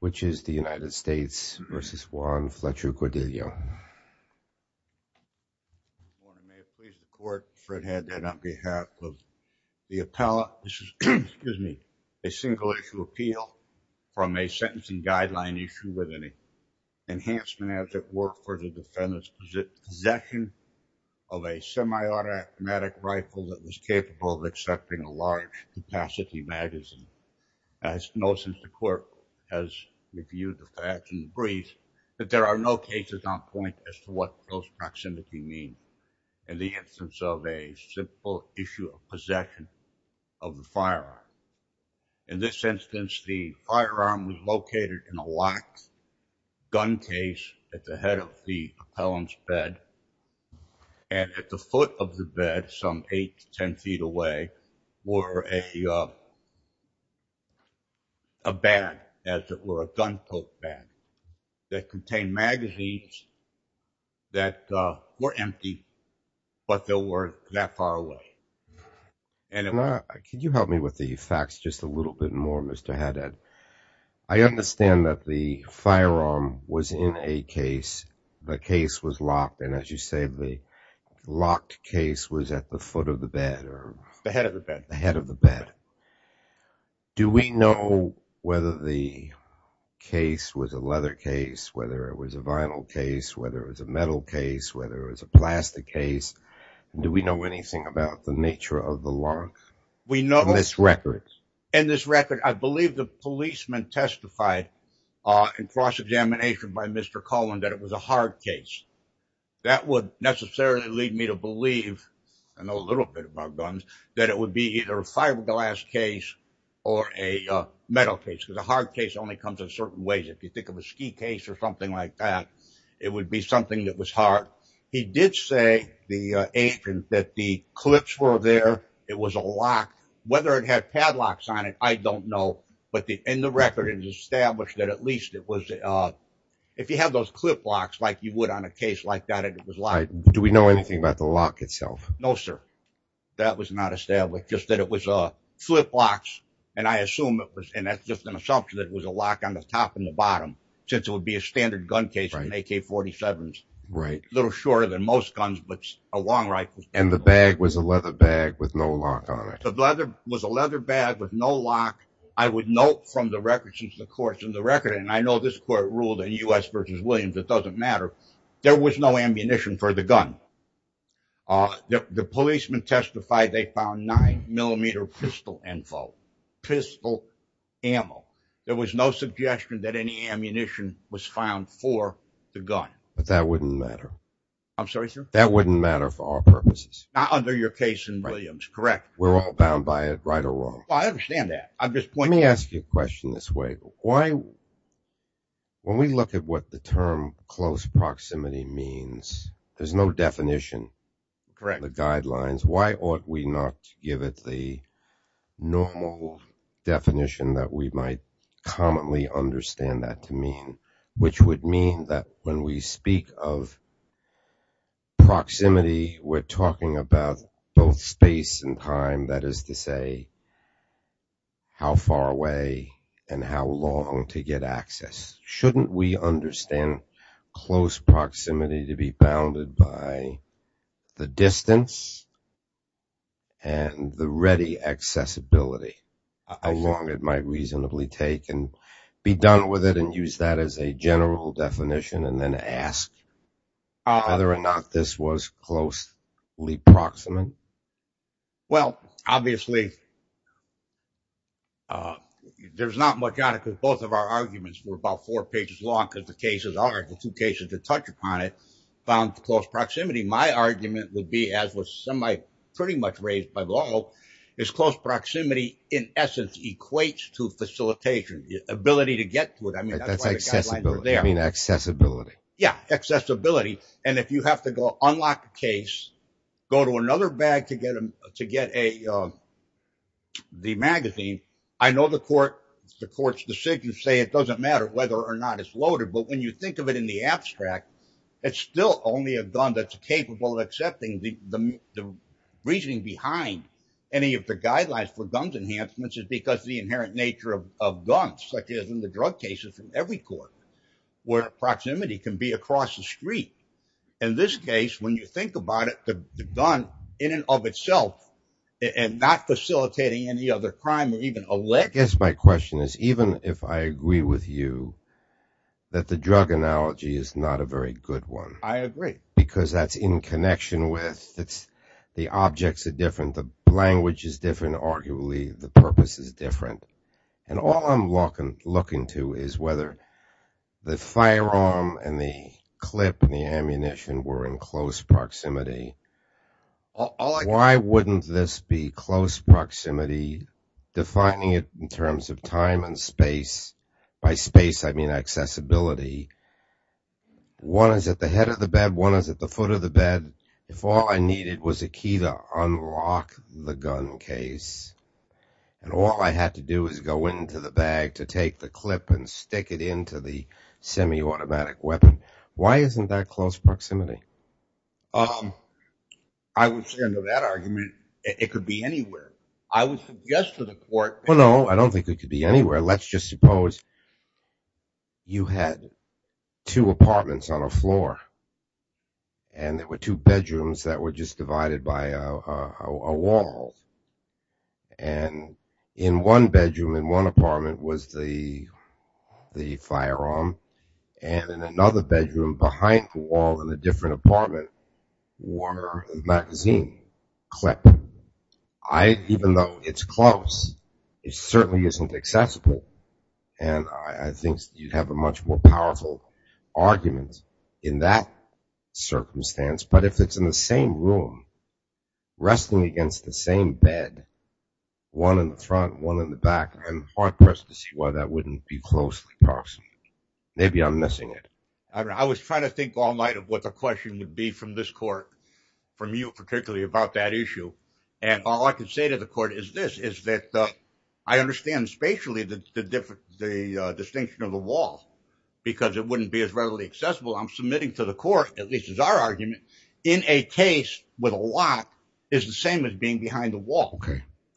which is the United States v. Juan Fletcher Gordillo. May it please the court, Fred Hedden on behalf of the appellate. This is a single-issue appeal from a sentencing guideline issue with an enhancement as it worked for the defendant's possession of a semi-automatic rifle that was capable of accepting a large-capacity magazine. I know since the court has reviewed the facts and the briefs that there are no cases on point as to what close proximity means in the instance of a simple issue of possession of the firearm. In this instance the firearm was located in a locked gun case at the head of the a bed as it were a gunpoke bed that contained magazines that were empty but there were that far away. Can you help me with the facts just a little bit more Mr. Hedden. I understand that the firearm was in a case the case was locked and as you say the locked case was at the foot of the bed or the head of the bed the head of the bed. Do we know whether the case was a leather case whether it was a vinyl case whether it was a metal case whether it was a plastic case do we know anything about the nature of the lock? We know this record and this record I believe the policemen testified in cross-examination by Mr. Cullen that it was a hard case that would necessarily lead me to I know a little bit about guns that it would be either a fiberglass case or a metal case because a hard case only comes in certain ways if you think of a ski case or something like that it would be something that was hard. He did say the agent that the clips were there it was a lock whether it had padlocks on it I don't know but the in the record is established that at least it was uh if you have those clip locks like you would on a case like that it was locked. Do we know anything about the lock itself? No sir that was not established just that it was a flip locks and I assume it was and that's just an assumption that it was a lock on the top and the bottom since it would be a standard gun case in AK-47s right a little shorter than most guns but a long rifle. And the bag was a leather bag with no lock on it? The leather was a leather bag with no lock I would note from the record since the court's in the record and I know this ruled in U.S. versus Williams it doesn't matter there was no ammunition for the gun uh the policeman testified they found nine millimeter pistol info pistol ammo there was no suggestion that any ammunition was found for the gun. But that wouldn't matter? I'm sorry sir? That wouldn't matter for our purposes? Not under your case in Williams correct? We're all bound by it right or let me ask you a question this way why when we look at what the term close proximity means there's no definition correct the guidelines why ought we not give it the normal definition that we might commonly understand that to mean which would mean that when we speak of proximity we're talking about both space and time that is to say how far away and how long to get access shouldn't we understand close proximity to be bounded by the distance and the ready accessibility how long it might reasonably take and be done with it and use that as a general definition and then ask whether or not this was closely proximate? Well obviously uh there's not much on it because both of our arguments were about four pages long because the cases are the two cases to touch upon it found close proximity my argument would be as with some I pretty much raised by law is close proximity in essence equates to facilitation ability to get to it I mean that's accessibility I mean accessibility yeah accessibility and if you have to go unlock a case go to another bag to get a to get a the magazine I know the court the court's decision say it doesn't matter whether or not it's loaded but when you think of it in the abstract it's still only a gun that's capable of accepting the the reasoning behind any of the guidelines for guns enhancements is because the inherent nature of of guns such as in the drug cases in every court where proximity can be across the street in this case when you think about it the gun in and of itself and not facilitating any other crime or even a let guess my question is even if I agree with you that the drug analogy is not a very good one I agree because that's in connection with it's the objects are different the language is different arguably the purpose is different and all I'm walking looking to is whether the firearm and the clip and the ammunition were in close proximity why wouldn't this be close proximity defining it in terms of time and space by space I mean accessibility one is at the head of the bed one is at the foot of the bed if all I needed was a key to unlock the gun case and all I had to do is go into the bag to take the clip and stick it into the semi-automatic weapon why isn't that close proximity um I would say under that argument it could be anywhere I would suggest to the court well no I don't think it could be anywhere let's just suppose you had two apartments on a floor and there were two bedrooms that were just divided by a wall and in one bedroom in one apartment was the the firearm and in another bedroom behind the wall in a different apartment were the magazine clip I even though it's close it certainly isn't accessible and I think you'd have a much more powerful argument in that circumstance but if it's in the same room resting against the same bed one in the front one in the back I'm hard-pressed to see why that wouldn't be closely proximity maybe I'm missing it I don't know I was trying to think all night of what the question would be from this court from you particularly about that issue and all I can say to the court is this is that I understand spatially the different the distinction of the wall because it wouldn't be as readily accessible I'm submitting to the court at least as our argument in a case with a lock is the same as being behind the wall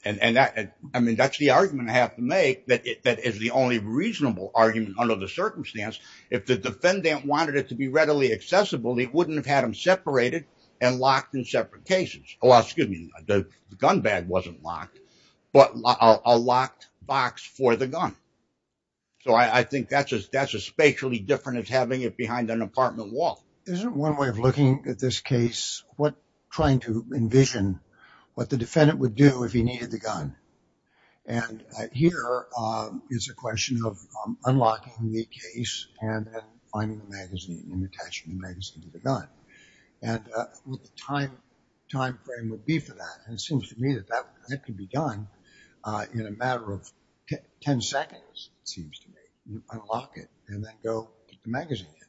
and and that and I mean that's the argument I have to make that that is the only reasonable argument under the circumstance if the defendant wanted it to be readily accessible it wouldn't have had them separated and locked in separate cases oh excuse me the gun bag wasn't locked but a locked box for the gun so I think that's just that's a spatially different as having it apartment wall isn't one way of looking at this case what trying to envision what the defendant would do if he needed the gun and here is a question of unlocking the case and then finding the magazine and attaching the magazine to the gun and what the time time frame would be for that and it seems to me that that that could be done in a matter of 10 seconds it seems to me you unlock it and then go magazine it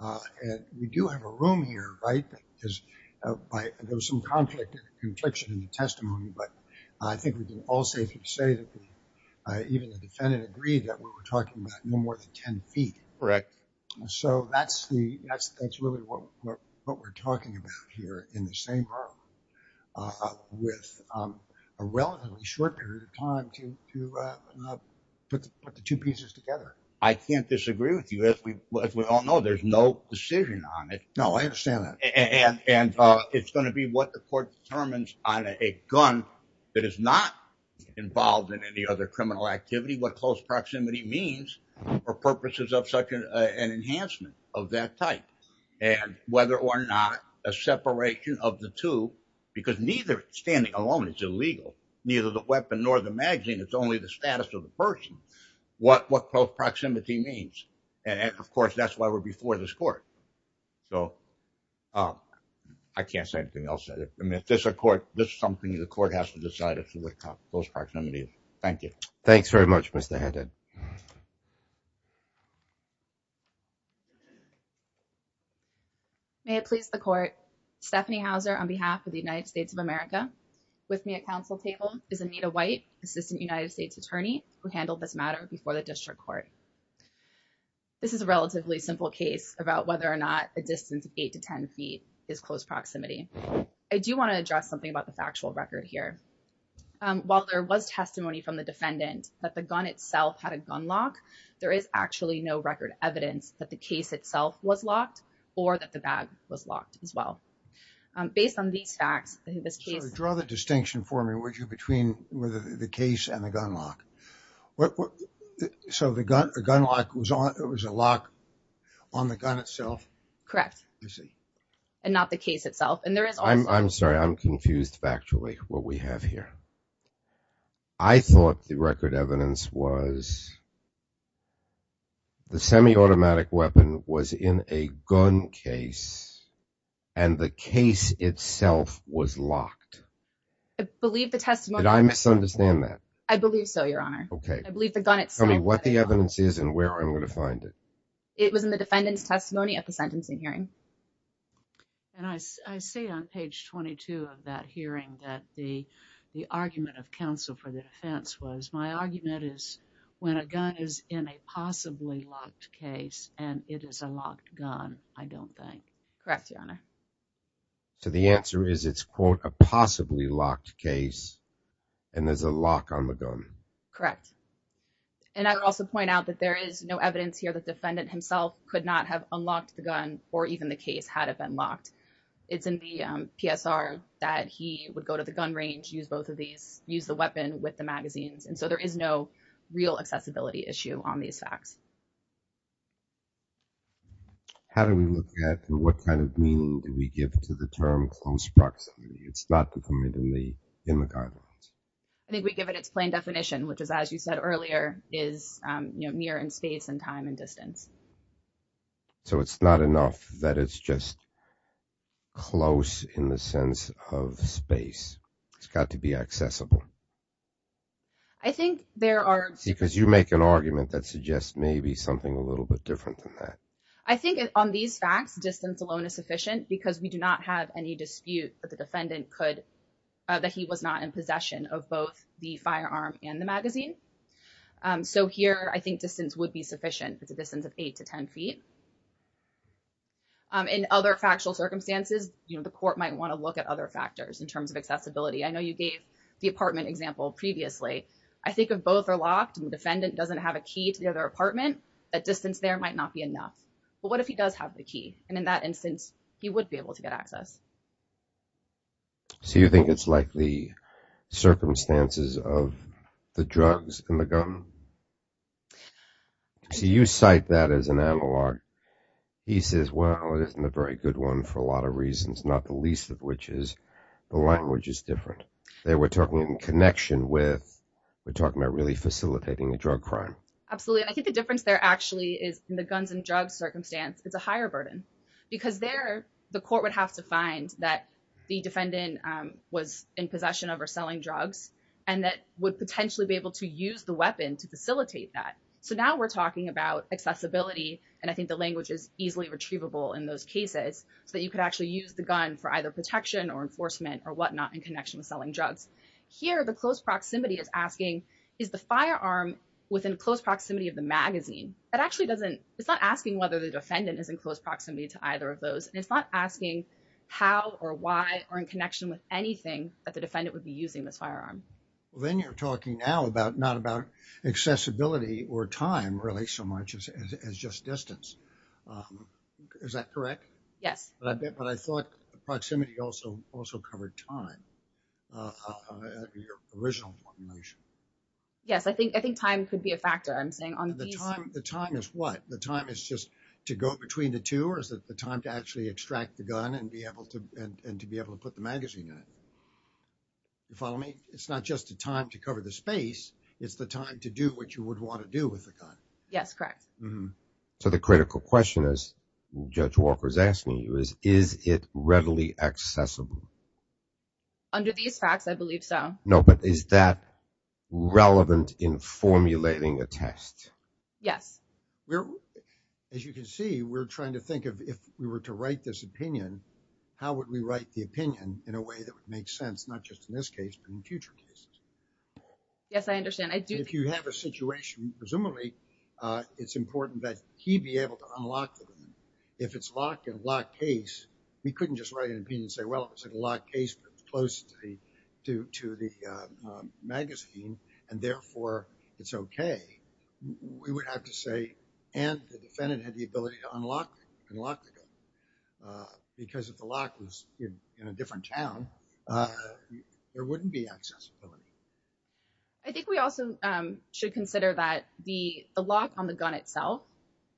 uh and we do have a room here right because by there was some conflict confliction in the testimony but I think we can all safely say that even the defendant agreed that we were talking about no more than 10 feet correct so that's the that's that's really what what we're talking about here in the same room uh with um a relatively short period of time to to uh put the two pieces together I can't disagree with you as we as we all know there's no decision on it no I understand that and and uh it's going to be what the court determines on a gun that is not involved in any other criminal activity what close proximity means for purposes of such an enhancement of that type and whether or not a separation of the two because neither standing alone it's illegal neither the weapon nor the magazine it's only the status of the person what what close proximity means and of course that's why we're before this court so um I can't say anything else I mean if there's a court this is something the court has to decide as to what those proximities thank you thanks very much Mr. Hendon may it please the court stephanie hauser on behalf of the united states of america with me at council table is anita white assistant united states attorney who handled this matter before the district court this is a relatively simple case about whether or not a distance of eight to ten feet is close proximity I do want to address something about the factual record here while there was testimony from the defendant that the gun itself had a gun lock there is actually no record evidence that the case itself was locked or that the bag was locked as well based on these facts in this case draw the distinction for me would you between whether the case and the gun lock what so the gun a gun lock was on it was a lock on the gun itself correct you see and not the case itself and there is I'm sorry I'm confused factually what we have here I thought the record evidence was the semi-automatic weapon was in a gun case and the case itself was locked I believe the testimony that I misunderstand that I believe so your honor okay I believe the gun itself tell me what the evidence is and where I'm going to find it it was in the defendant's testimony at the sentencing hearing and I say on page 22 of that hearing that the the argument of counsel for the defense was my argument is when a gun is in a possibly locked case and it is a locked gun I don't think correct your honor so the answer is it's quote a possibly locked case and there's a lock on the gun correct and I would also point out that there is no evidence here the defendant himself could not have unlocked the gun or even the case had it been locked it's in the PSR that he would go to the gun range use both of these use the weapon with the magazines and so there is no real accessibility issue on these facts how do we look at what kind of meaning do we give to the term close proximity it's not the commitment in the guidelines I think we give it its plain definition which is as you said earlier is you know near in space and time and distance so it's not enough that it's just close in the sense of space it's got to be accessible I think there are because you make an argument that suggests maybe something a little bit different than that I think on these facts distance alone is sufficient because we do not have any dispute that the defendant could that he was not in possession of both the firearm and the magazine so here I think distance would be sufficient it's a distance of 8 to 10 feet in other factual circumstances you know the court might want to look at other factors in terms of accessibility I know you gave the apartment example previously I think if both are locked and defendant doesn't have a key to the other apartment that distance there might not be enough but what if he does have the key and in that instance he would be able to get access so you think it's like the circumstances of the drugs and the gun so you cite that as an analog he says well it isn't a very good one for a lot of reasons not the least of which is the language is different they were talking in connection with we're talking about really facilitating the drug crime absolutely I think the difference there actually is in the guns and drugs circumstance it's a higher burden because there the court would have to find that the defendant was in possession of or selling drugs and that would potentially be able to use the weapon to facilitate that so now we're talking about accessibility and I think the language is easily retrievable in those cases so you could actually use the gun for either protection or enforcement or whatnot in connection with selling drugs here the close proximity is asking is the firearm within close proximity of the magazine that actually doesn't it's not asking whether the defendant is in close proximity to either of how or why or in connection with anything that the defendant would be using this firearm well then you're talking now about not about accessibility or time really so much as just distance is that correct yes but I bet but I thought proximity also also covered time your original motion yes I think I think time could be a factor I'm saying on the time the time is just to go between the two or is it the time to actually extract the gun and be able to and to be able to put the magazine in it you follow me it's not just the time to cover the space it's the time to do what you would want to do with the gun yes correct so the critical question is judge walker's asking you is is it readily accessible under these facts I believe no but is that relevant in formulating a test yes we're as you can see we're trying to think of if we were to write this opinion how would we write the opinion in a way that would make sense not just in this case but in future cases yes I understand I do if you have a situation presumably uh it's important that he'd be able to unlock them if it's locked in a locked case we couldn't just write an opinion and say well it was a locked case but it's close to the to to the uh magazine and therefore it's okay we would have to say and the defendant had the ability to unlock unlock the gun uh because if the lock was in in a different town uh there wouldn't be accessibility I think we also um should consider that the the lock on the gun itself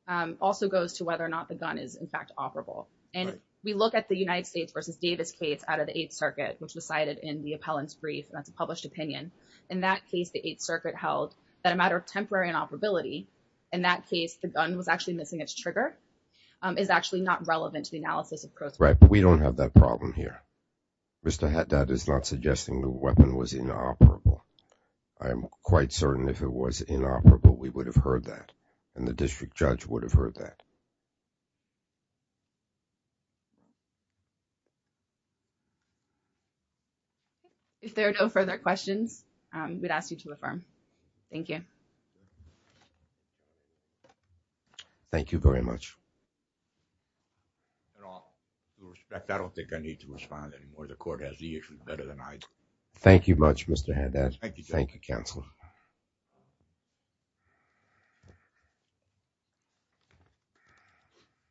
um also goes to whether or not the gun is in fact operable and we look at the united states versus davis case out of the eighth circuit which was cited in the appellant's brief that's a published opinion in that case the eighth circuit held that a matter of temporary inoperability in that case the gun was actually missing its trigger um is actually not relevant to the analysis of course right we don't have that problem here mr haddad is not suggesting the and the district judge would have heard that if there are no further questions um we'd ask you to affirm thank you thank you very much at all with respect I don't think I need to respond anymore the court has the issues better thank you much mr haddad thank you thank you counselor